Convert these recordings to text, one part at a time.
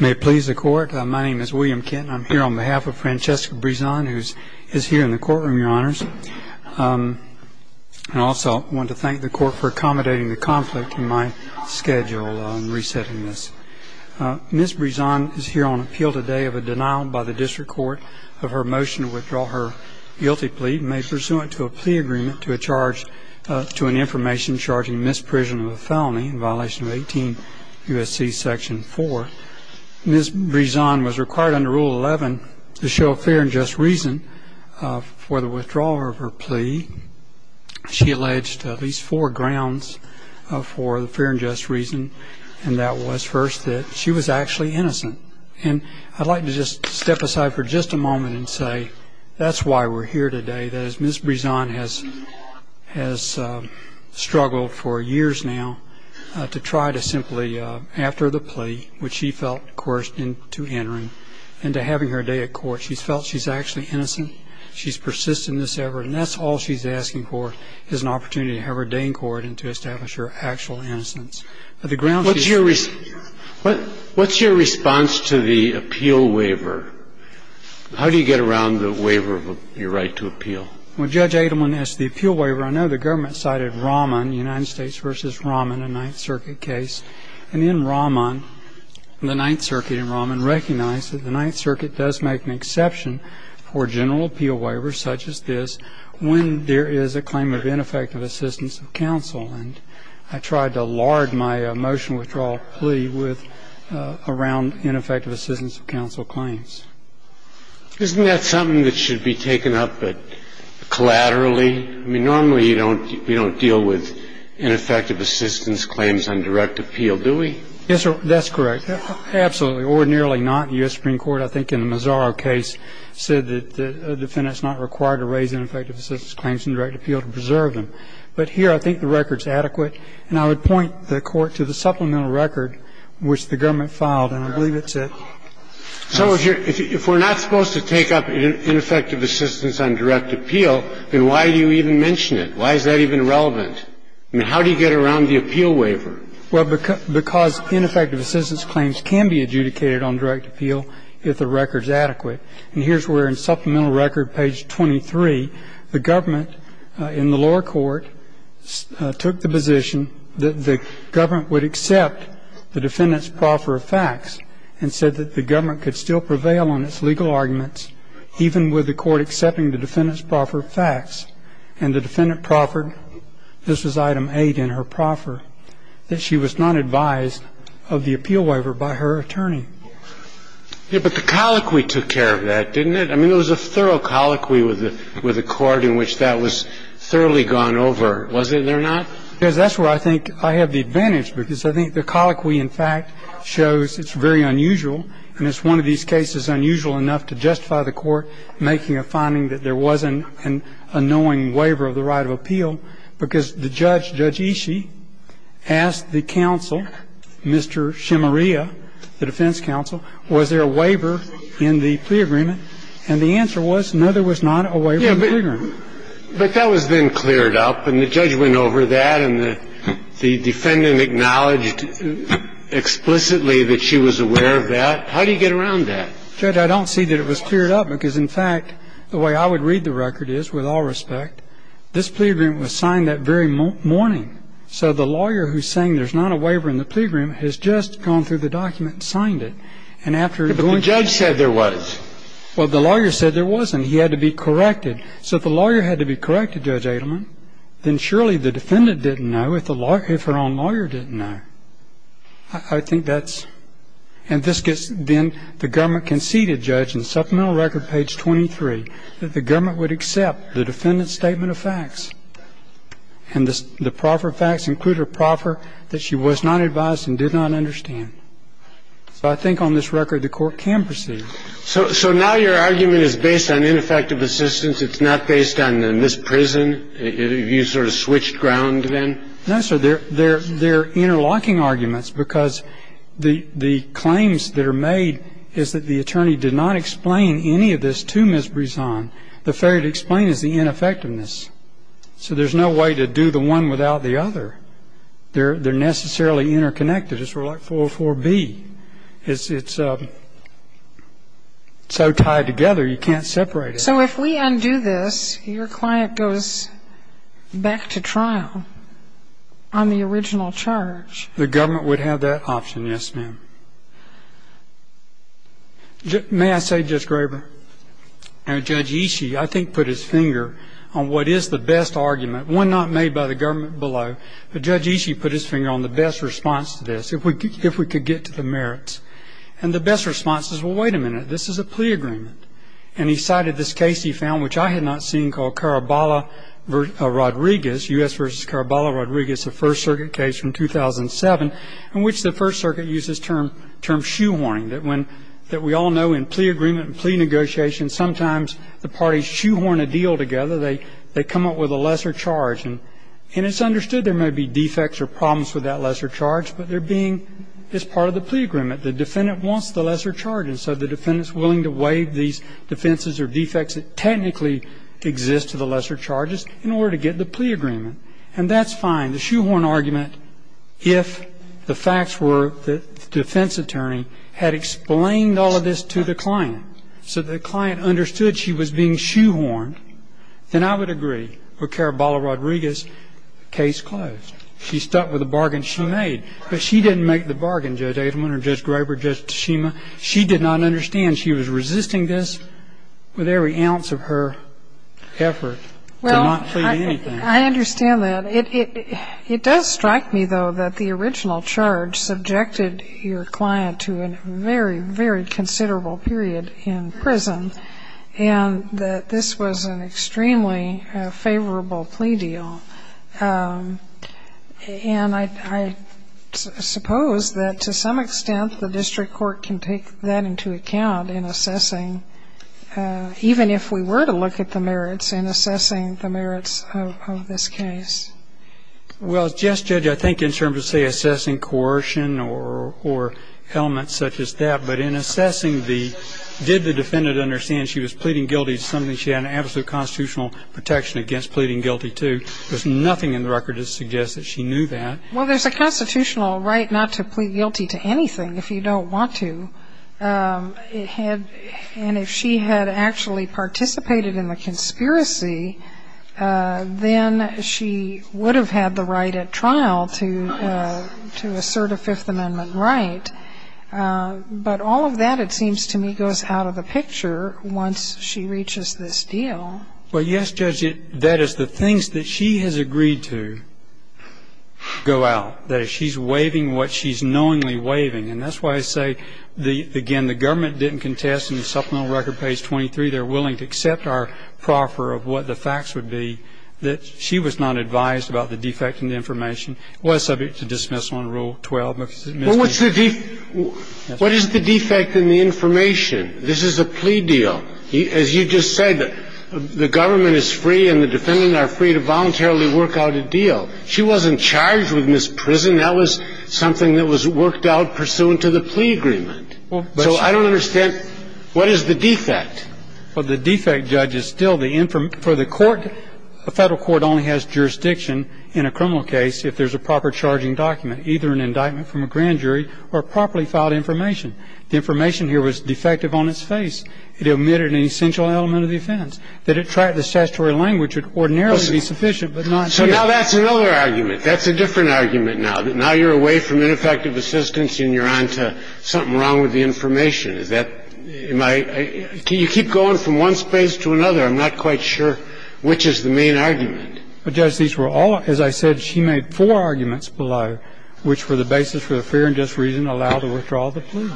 May it please the court, my name is William Kent and I'm here on behalf of Francheska Brizan who is here in the courtroom, your honors. I also want to thank the court for accommodating the conflict in my schedule on resetting this. Ms. Brizan is here on appeal today of a denial by the district court of her motion to withdraw her guilty plea made pursuant to a plea agreement to a charge to an information charging misprision of a felony in violation of 18 U.S.C. Section 4. Ms. Brizan was required under Rule 11 to show fair and just reason for the withdrawal of her plea. She alleged at least four grounds for the fair and just reason and that was first that she was actually innocent and I'd like to just step aside for just a moment and say that's why we're here today. Ms. Brizan has struggled for years now to try to simply after the plea which she felt coerced into entering and to having her day at court she's felt she's actually innocent, she's persisted in this effort and that's all she's asking for is an opportunity to have her day in court and to establish her actual innocence. What's your response to the appeal waiver? How do you get around the waiver of your right to appeal? Well Judge Adelman asked the appeal waiver, I know the government cited Raman, United States Circuit of Appeals, and Raman recognized that the Ninth Circuit does make an exception for general appeal waivers such as this when there is a claim of ineffective assistance of counsel and I tried to lard my motion withdrawal plea with around ineffective assistance of counsel claims. Isn't that something that should be taken up collaterally? I mean normally you don't deal with ineffective assistance claims on direct appeal do we? Yes sir, that's correct. Absolutely ordinarily not. U.S. Supreme Court I think in the Mazaro case said that the defendant is not required to raise ineffective assistance claims in direct appeal to preserve them but here I think the record is adequate and I would point the court to the supplemental record which the government filed and I believe it's it. So if we're not supposed to take up ineffective assistance on direct appeal then why do you even mention it? Why is that even relevant? I mean how do you get around the appeal waiver? Well because ineffective assistance claims can be adjudicated on direct appeal if the record is adequate and here's where in supplemental record page 23 the government in the lower court took the position that the government would accept the defendant's proffer of facts and said that the government could still prevail on its legal arguments even with the court accepting the defendant's proffer of facts and the defendant proffered that she was not advised of the appeal waiver by her attorney. Yeah, but the colloquy took care of that, didn't it? I mean there was a thorough colloquy with the court in which that was thoroughly gone over, was it or not? Yes, that's where I think I have the advantage because I think the colloquy in fact shows it's very unusual and it's one of these cases unusual enough to justify the court making a finding that there was an annoying waiver of the right of appeal because the judge, Judge Ishii, asked the counsel, Mr. Shemaria, the defense counsel, was there a waiver in the pre-agreement and the answer was no, there was not a waiver in the pre-agreement. Yeah, but that was then cleared up and the judge went over that and the defendant acknowledged explicitly that she was aware of that. How do you get around that? Judge, I don't see that it was cleared up because in fact the way I would read the record is, with all respect, this pre-agreement was signed that very morning. So the lawyer who's saying there's not a waiver in the pre-agreement has just gone through the document and signed it. But the judge said there was. Well, the lawyer said there was and he had to be corrected. So if the lawyer had to be corrected, Judge Adelman, then surely the defendant didn't know if her own lawyer didn't know. I think that's, and this gets, then the government conceded, Judge, in supplemental record page 23, that the government would accept the defendant's statement of facts. And the proffer of facts included a proffer that she was not advised and did not understand. So I think on this record the court can proceed. So now your argument is based on ineffective assistance. It's not based on this prison. You sort of switched ground then? No, sir. They're interlocking arguments because the claims that are made is that the attorney did not explain any of this to Ms. Brisson. The failure to explain is the ineffectiveness. So there's no way to do the one without the other. They're necessarily interconnected. It's sort of like 404B. It's so tied together you can't separate it. So if we undo this, your client goes back to trial on the original charge. The government would have that option, yes, ma'am. May I say, Judge Graber, Judge Ishii I think put his finger on what is the best argument, one not made by the government below, but Judge Ishii put his finger on the best response to this, if we could get to the merits. And the best response is, well, wait a minute. This is a plea agreement. And he cited this case he found, which I had not seen, called Caraballo-Rodriguez, U.S. v. Caraballo-Rodriguez, the First Circuit case from 2007, in which the First Circuit used this term shoehorning, that when we all know in plea agreement and plea negotiations sometimes the parties shoehorn a deal together, they come up with a lesser charge. And it's understood there may be defects or problems with that lesser charge, but they're being as part of the plea agreement. The defendant wants the lesser charge. And so the defendant is willing to waive these defenses or defects that technically exist to the lesser charges in order to get the plea agreement. And that's fine. The shoehorn argument, if the facts were that the defense attorney had explained all of this to the client, so the client understood she was being shoehorned, then I would agree with Caraballo-Rodriguez, case closed. She stuck with the bargain she made. But she didn't make the bargain, Judge Adelman or Judge Graber, Judge Tashima. She did not understand. She was resisting this with every ounce of her effort to not plead anything. Well, I understand that. It does strike me, though, that the original charge subjected your client to a very, very considerable period in prison, and that this was an extremely favorable plea deal. And I suppose that to some extent the district court can take that into account in assessing, even if we were to look at the merits, in assessing the merits of this case. Well, Judge, I think in terms of, say, assessing coercion or elements such as that, but in assessing the did the defendant understand she was pleading guilty to something she had an absolute constitutional protection against pleading guilty to, there's nothing in the record that suggests that she knew that. Well, there's a constitutional right not to plead guilty to anything if you don't want to. And if she had actually participated in the conspiracy, then she would have had the right at trial to assert a Fifth Amendment right. But all of that, it seems to me, goes out of the picture once she reaches this deal. Well, yes, Judge, that is the things that she has agreed to go out, that she's waiving what she's knowingly waiving. And that's why I say, again, the government didn't contest in the supplemental record, page 23, they're willing to accept our proffer of what the facts would be that she was not advised about the defect in the information was subject to dismissal in Rule 12. Well, what's the defect in the information? This is a plea deal. As you just said, the government is free and the defendant are free to voluntarily work out a deal. She wasn't charged with misprison. That was something that was worked out pursuant to the plea agreement. So I don't understand, what is the defect? Well, the defect, Judge, is still the information for the court. The federal court only has jurisdiction in a criminal case if there's a proper charging document, either an indictment from a grand jury or properly filed information. The information here was defective on its face. It omitted an essential element of the offense. That it tracked the statutory language would ordinarily be sufficient, but not here. So now that's another argument. That's a different argument now, that now you're away from ineffective assistance and you're on to something wrong with the information. Can you keep going from one space to another? I'm not quite sure which is the main argument. But, Judge, these were all, as I said, she made four arguments below, which were the basis for the fear and just reason to allow the withdrawal of the plea.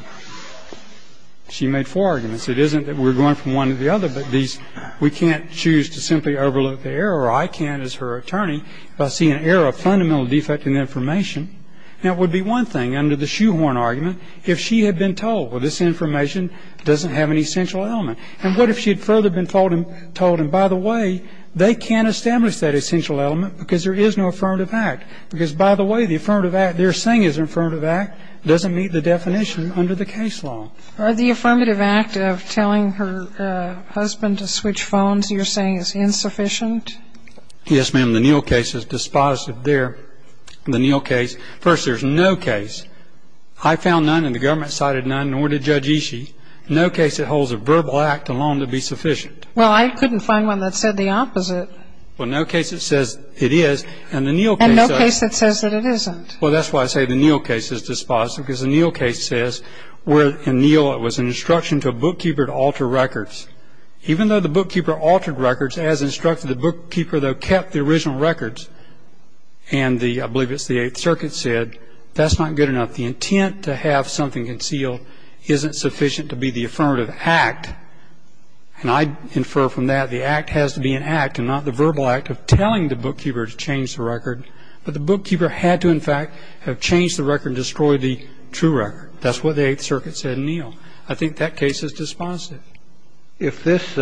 She made four arguments. It isn't that we're going from one to the other, but these, we can't choose to simply overlook the error, or I can't as her attorney, if I see an error of fundamental defect in the information. Now, it would be one thing under the shoehorn argument if she had been told, well, this information doesn't have an essential element. And what if she had further been told, and by the way, they can't establish that essential element because there is no affirmative act. Because, by the way, the affirmative act they're saying is an affirmative act doesn't meet the definition under the case law. Are the affirmative act of telling her husband to switch phones you're saying is insufficient? Yes, ma'am. The Neal case is dispositive there. The Neal case. First, there's no case. I found none and the government cited none, nor did Judge Ishii. No case that holds a verbal act alone to be sufficient. Well, I couldn't find one that said the opposite. Well, no case that says it is. And the Neal case. And no case that says that it isn't. Well, that's why I say the Neal case is dispositive, because the Neal case says, where in Neal it was an instruction to a bookkeeper to alter records. Even though the bookkeeper altered records, as instructed, the bookkeeper, though, kept the original records. And the, I believe it's the Eighth Circuit, said that's not good enough. But the intent to have something concealed isn't sufficient to be the affirmative act. And I infer from that the act has to be an act and not the verbal act of telling the bookkeeper to change the record. But the bookkeeper had to, in fact, have changed the record and destroyed the true record. That's what the Eighth Circuit said in Neal. I think that case is dispositive. If this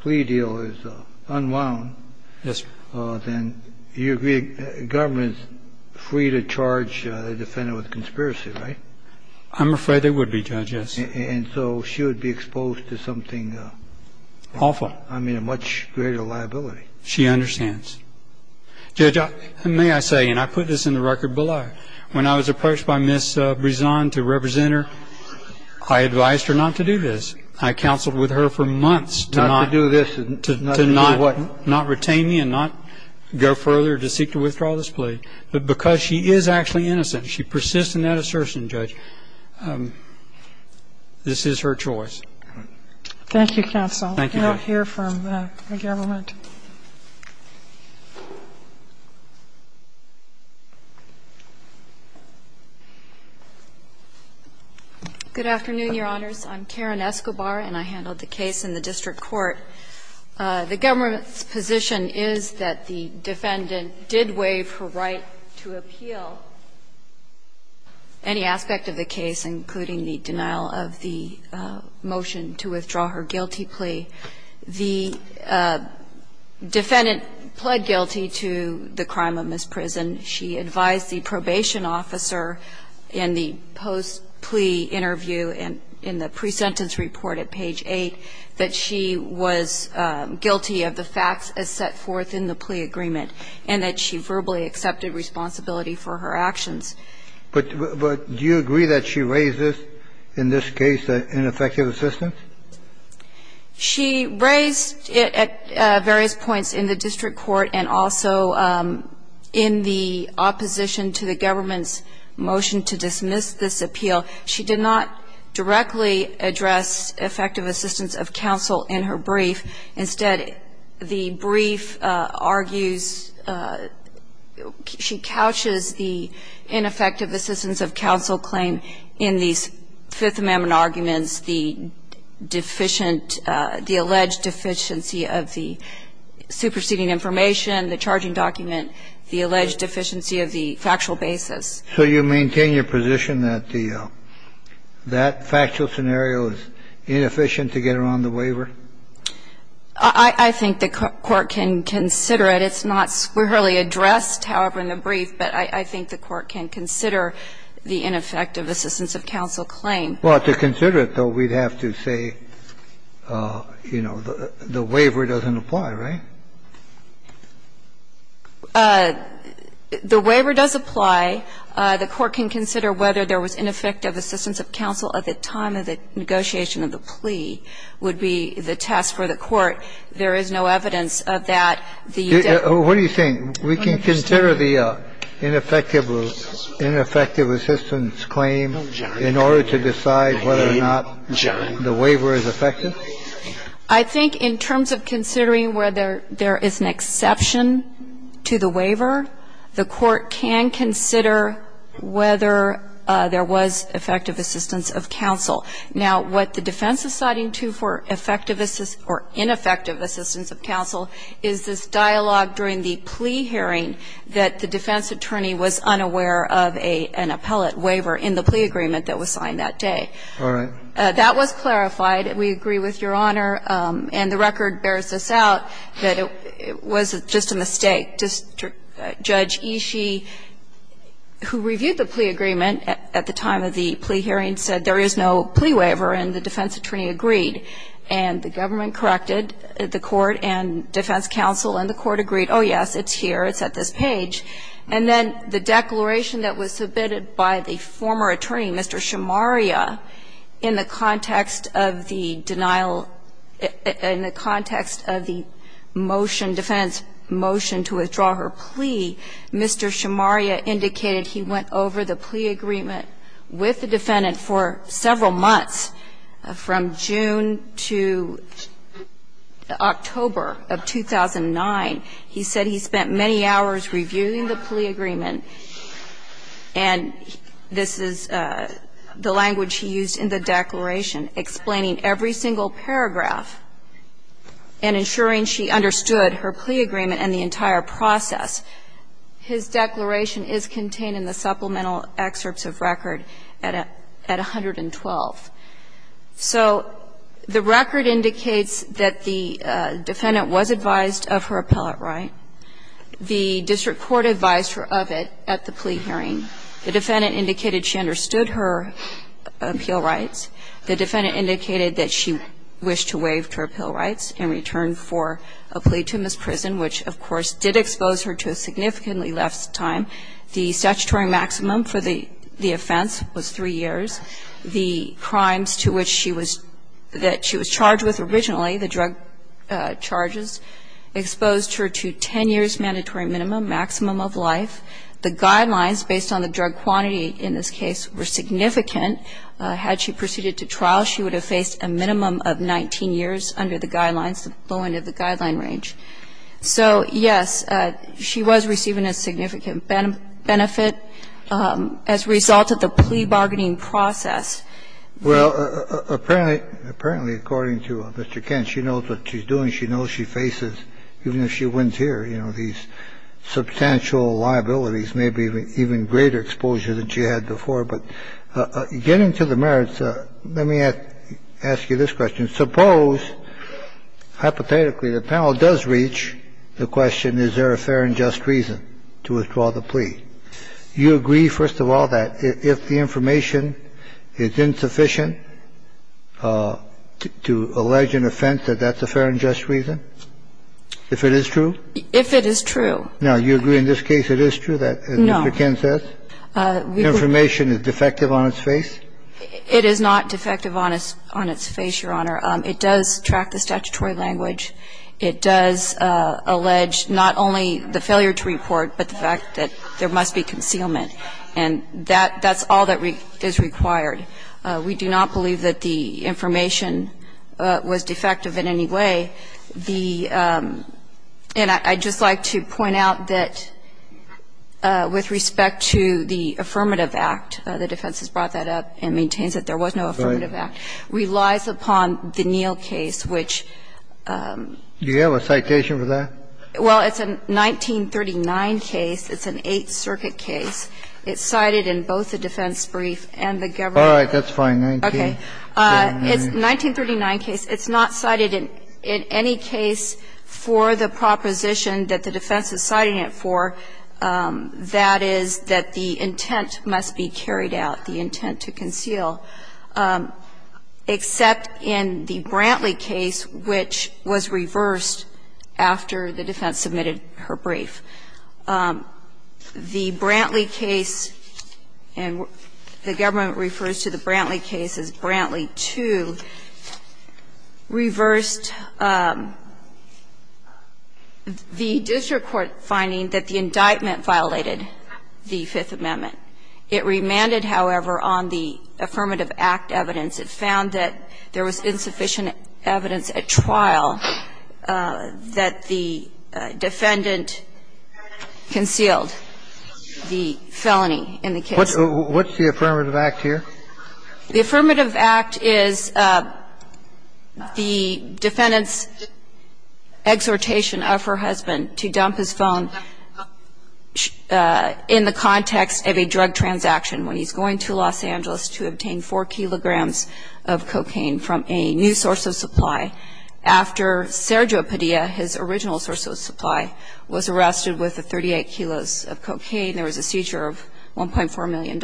plea deal is unwound, then you agree the government is free to charge the defense with conspiracy, right? I'm afraid they would be, Judge, yes. And so she would be exposed to something awful. I mean, a much greater liability. She understands. Judge, may I say, and I put this in the record below. When I was approached by Ms. Brisson to represent her, I advised her not to do this. I counseled with her for months to not retain me and not go further to seek to withdraw this plea. And she did. But because she is actually innocent, she persists in that assertion, Judge. This is her choice. Thank you, counsel. Thank you, Judge. I now hear from the government. Good afternoon, Your Honors. I'm Karen Escobar, and I handled the case in the district court. The government's position is that the defendant did waive her right to appeal any aspect of the case, including the denial of the motion to withdraw her guilty plea. The defendant pled guilty to the crime of misprison. She advised the probation officer in the post-plea interview and in the pre-sentence report at page 8 that she was guilty of the facts as set forth in the plea agreement and that she verbally accepted responsibility for her actions. But do you agree that she raised this, in this case, in effective assistance? She raised it at various points in the district court and also in the opposition case. She did not directly address effective assistance of counsel in her brief. Instead, the brief argues she couches the ineffective assistance of counsel claim in these Fifth Amendment arguments, the deficient, the alleged deficiency of the superseding information, the charging document, the alleged deficiency of the factual basis. So you maintain your position that that factual scenario is inefficient to get her on the waiver? I think the Court can consider it. It's not squarely addressed, however, in the brief, but I think the Court can consider the ineffective assistance of counsel claim. Well, to consider it, though, we'd have to say, you know, the waiver doesn't apply, right? The waiver does apply. The Court can consider whether there was ineffective assistance of counsel at the time of the negotiation of the plea would be the test for the Court. There is no evidence of that. What do you think? We can consider the ineffective assistance claim in order to decide whether or not the waiver is effective? I think in terms of considering whether there is an exception to the waiver, the Court can consider whether there was effective assistance of counsel. Now, what the defense is citing to for effective or ineffective assistance of counsel is this dialogue during the plea hearing that the defense attorney was unaware of an appellate waiver in the plea agreement that was signed that day. All right. That was clarified. We agree with Your Honor. And the record bears this out, that it was just a mistake. Judge Ishii, who reviewed the plea agreement at the time of the plea hearing, said there is no plea waiver, and the defense attorney agreed. And the government corrected the Court and defense counsel, and the Court agreed, oh, yes, it's here, it's at this page. And then the declaration that was submitted by the former attorney, Mr. Shimaria, in the context of the denial, in the context of the motion, defendant's motion to withdraw her plea, Mr. Shimaria indicated he went over the plea agreement with the defendant for several months, from June to October of 2009. He said he spent many hours reviewing the plea agreement, and this is the language he used in the declaration, explaining every single paragraph and ensuring she understood her plea agreement and the entire process. His declaration is contained in the supplemental excerpts of record at 112. So the record indicates that the defendant was advised of her appellate right. The district court advised her of it at the plea hearing. The defendant indicated she understood her appeal rights. The defendant indicated that she wished to waive her appeal rights in return for a plea to Ms. Prison, which, of course, did expose her to a significantly less time. The statutory maximum for the offense was 3 years. The crimes to which she was – that she was charged with originally, the drug charges, exposed her to 10 years' mandatory minimum, maximum of life. The guidelines, based on the drug quantity in this case, were significant. Had she proceeded to trial, she would have faced a minimum of 19 years under the guidelines, the low end of the guideline range. So, yes, she was receiving a significant benefit as a result of the plea bargaining process. Well, apparently – apparently, according to Mr. Kent, she knows what she's doing. She knows she faces, even if she wins here, you know, these substantial liabilities, maybe even greater exposure than she had before. But getting to the merits, let me ask you this question. Suppose, hypothetically, the panel does reach the question, is there a fair and just reason to withdraw the plea? You agree, first of all, that if the information is insufficient to allege an offense that that's a fair and just reason? If it is true? If it is true. Now, you agree in this case it is true, as Mr. Kent says? No. Information is defective on its face? It is not defective on its face, Your Honor. It does track the statutory language. It does allege not only the failure to report, but the fact that there must be concealment. And that's all that is required. We do not believe that the information was defective in any way. The – and I'd just like to point out that with respect to the Affirmative Act, the defense has brought that up and maintains that there was no Affirmative Act, relies upon the Neal case, which – Do you have a citation for that? Well, it's a 1939 case. It's an Eighth Circuit case. It's cited in both the defense brief and the government brief. All right. That's fine. Okay. It's a 1939 case. It's not cited in any case for the proposition that the defense is citing it for. That is, that the intent must be carried out, the intent to conceal, except in the Brantley case, which was reversed after the defense submitted her brief. The Brantley case, and the government refers to the Brantley case as Brantley 2, reversed the district court finding that the indictment violated the Fifth Amendment. It remanded, however, on the Affirmative Act evidence. It found that there was insufficient evidence at trial that the defendant concealed the felony in the case. What's the Affirmative Act here? The Affirmative Act is the defendant's exhortation of her husband to dump his phone in the context of a drug transaction when he's going to Los Angeles to obtain 4 kilograms of cocaine from a new source of supply after Sergio Padilla, his original source of supply, was arrested with the 38 kilos of cocaine. There was a seizure of $1.4 million.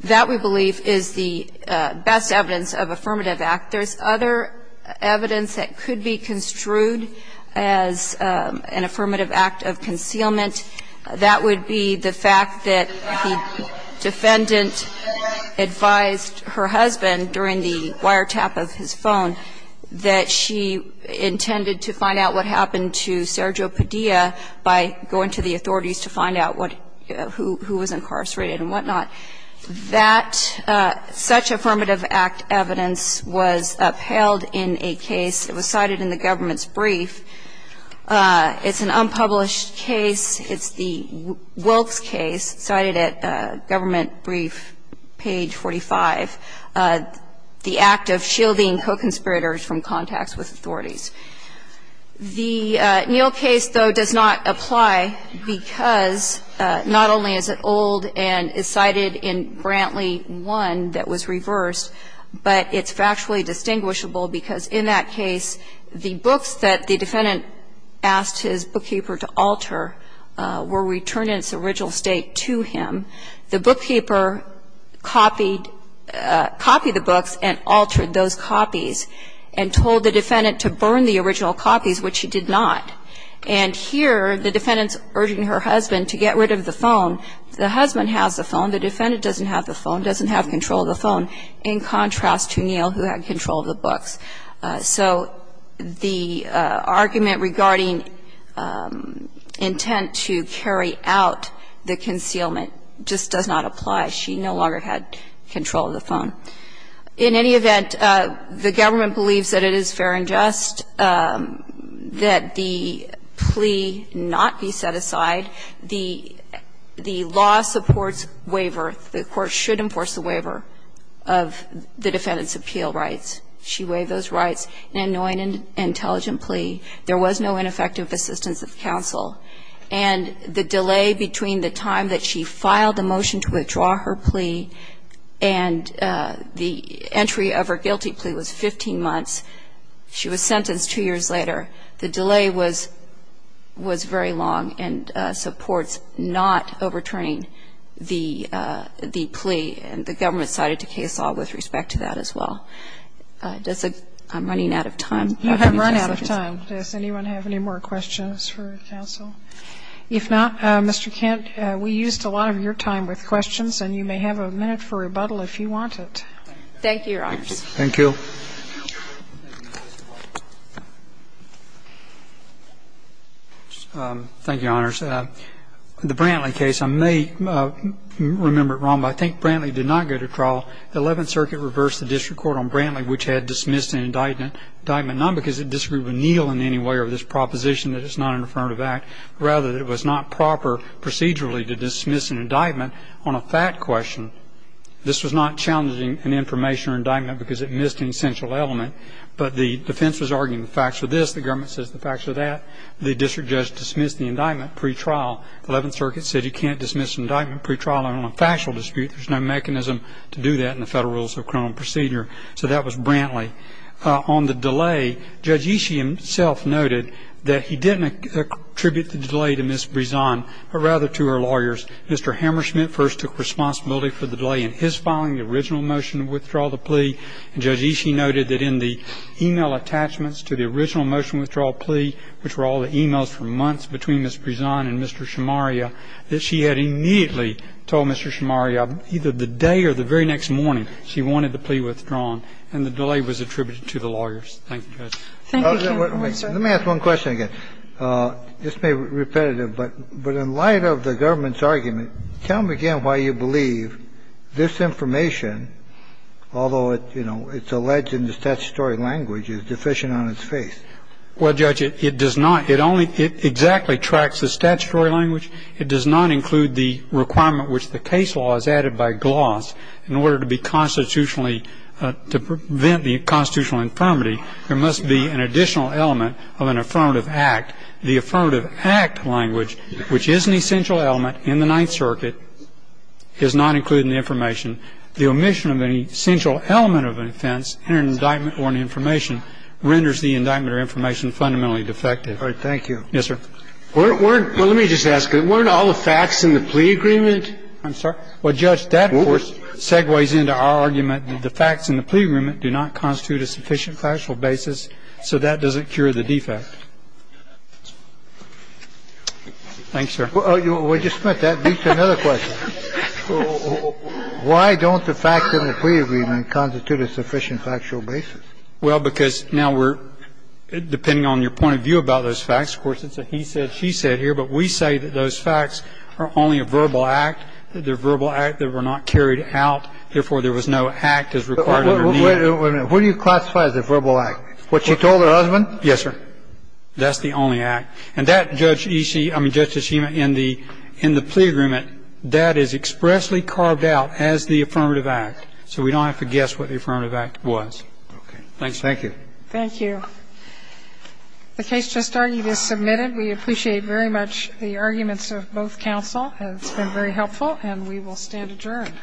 That, we believe, is the best evidence of Affirmative Act. There's other evidence that could be construed as an Affirmative Act of concealment. That would be the fact that the defendant advised her husband during the wiretap of his phone that she intended to find out what happened to Sergio Padilla by going to the authorities to find out what who was incarcerated and whatnot. That, such Affirmative Act evidence was upheld in a case. It was cited in the government's brief. It's an unpublished case. It's the Wilkes case cited at government brief page 45. The act of shielding co-conspirators from contacts with authorities. The Neal case, though, does not apply because not only is it old and is cited in Brantley 1 that was reversed, but it's factually distinguishable because in that case, the books that the defendant asked his bookkeeper to alter were returned in its original state to him. The bookkeeper copied the books and altered those copies and told the defendant to burn the original copies, which he did not. And here, the defendant's urging her husband to get rid of the phone. The husband has the phone. The defendant doesn't have the phone, doesn't have control of the phone, in contrast to Neal, who had control of the books. So the argument regarding intent to carry out the concealment just does not apply. She no longer had control of the phone. In any event, the government believes that it is fair and just that the plea not be set aside. The law supports waiver. The court should enforce the waiver of the defendant's appeal rights. She waived those rights in an annoying and intelligent plea. There was no ineffective assistance of counsel. And the delay between the time that she filed the motion to withdraw her plea and the entry of her guilty plea was 15 months. She was sentenced two years later. The delay was very long and supports not overturning the plea. And the government cited the case law with respect to that as well. I'm running out of time. You have run out of time. Does anyone have any more questions for counsel? If not, Mr. Kent, we used a lot of your time with questions, and you may have a minute for rebuttal if you want it. Thank you, Your Honors. Thank you. Thank you, Your Honors. The Brantley case, I may remember it wrong, but I think Brantley did not go to trial. The Eleventh Circuit reversed the district court on Brantley, which had dismissed an indictment, not because it disagreed with Neal in any way or this proposition that it's not an affirmative act, rather that it was not proper procedurally to dismiss an indictment on a fact question. This was not challenging an information or indictment because it missed an essential element, but the defense was arguing the facts were this. The government says the facts are that. The district judge dismissed the indictment pretrial. The Eleventh Circuit said you can't dismiss an indictment pretrial on a factual dispute. There's no mechanism to do that in the Federal Rules of Criminal Procedure. So that was Brantley. On the delay, Judge Ishii himself noted that he didn't attribute the delay to Ms. Brizon, but rather to her lawyers. Mr. Hammerschmidt first took responsibility for the delay in his filing the original motion to withdraw the plea, and Judge Ishii noted that in the email attachments to the original motion to withdraw the plea, which were all the emails from months between Ms. Brizon and Mr. Shamaria, that she had immediately told Mr. Shamaria either the day or the very next morning she wanted the plea withdrawn. And the delay was attributed to the lawyers. Thank you, Judge. Let me ask one question again. This may be repetitive, but in light of the government's argument, tell me again why you believe this information, although it's alleged in the statutory language, is deficient on its face. Well, Judge, it does not. It only exactly tracks the statutory language. It does not include the requirement which the case law is added by gloss in order to be constitutionally to prevent the constitutional infirmity. There must be an additional element of an affirmative act. The affirmative act language, which is an essential element in the Ninth Circuit, is not included in the information. The omission of an essential element of an offense in an indictment or an information renders the indictment or information fundamentally defective. All right. Thank you. Yes, sir. Well, let me just ask. Weren't all the facts in the plea agreement? I'm sorry? Well, Judge, that, of course, segues into our argument that the facts in the plea agreement do not constitute a sufficient factual basis, so that doesn't cure the defect. Thanks, sir. We just meant that leads to another question. Why don't the facts in the plea agreement constitute a sufficient factual basis? Well, because now we're ‑‑ depending on your point of view about those facts, of course, it's a he said, she said here, but we say that those facts are only a verbal act, that they're a verbal act, they were not carried out, therefore, there was no act as required under the Ninth. Wait a minute. Who do you classify as a verbal act? What she told her husband? Yes, sir. That's the only act. And that, Judge E.C. ‑‑ I mean, Justice Hema, in the plea agreement, that is expressly carved out as the affirmative act, so we don't have to guess what the affirmative act was. Okay. Thanks. Thank you. Thank you. The case just argued is submitted. We appreciate very much the arguments of both counsel. It's been very helpful, and we will stand adjourned. Okay.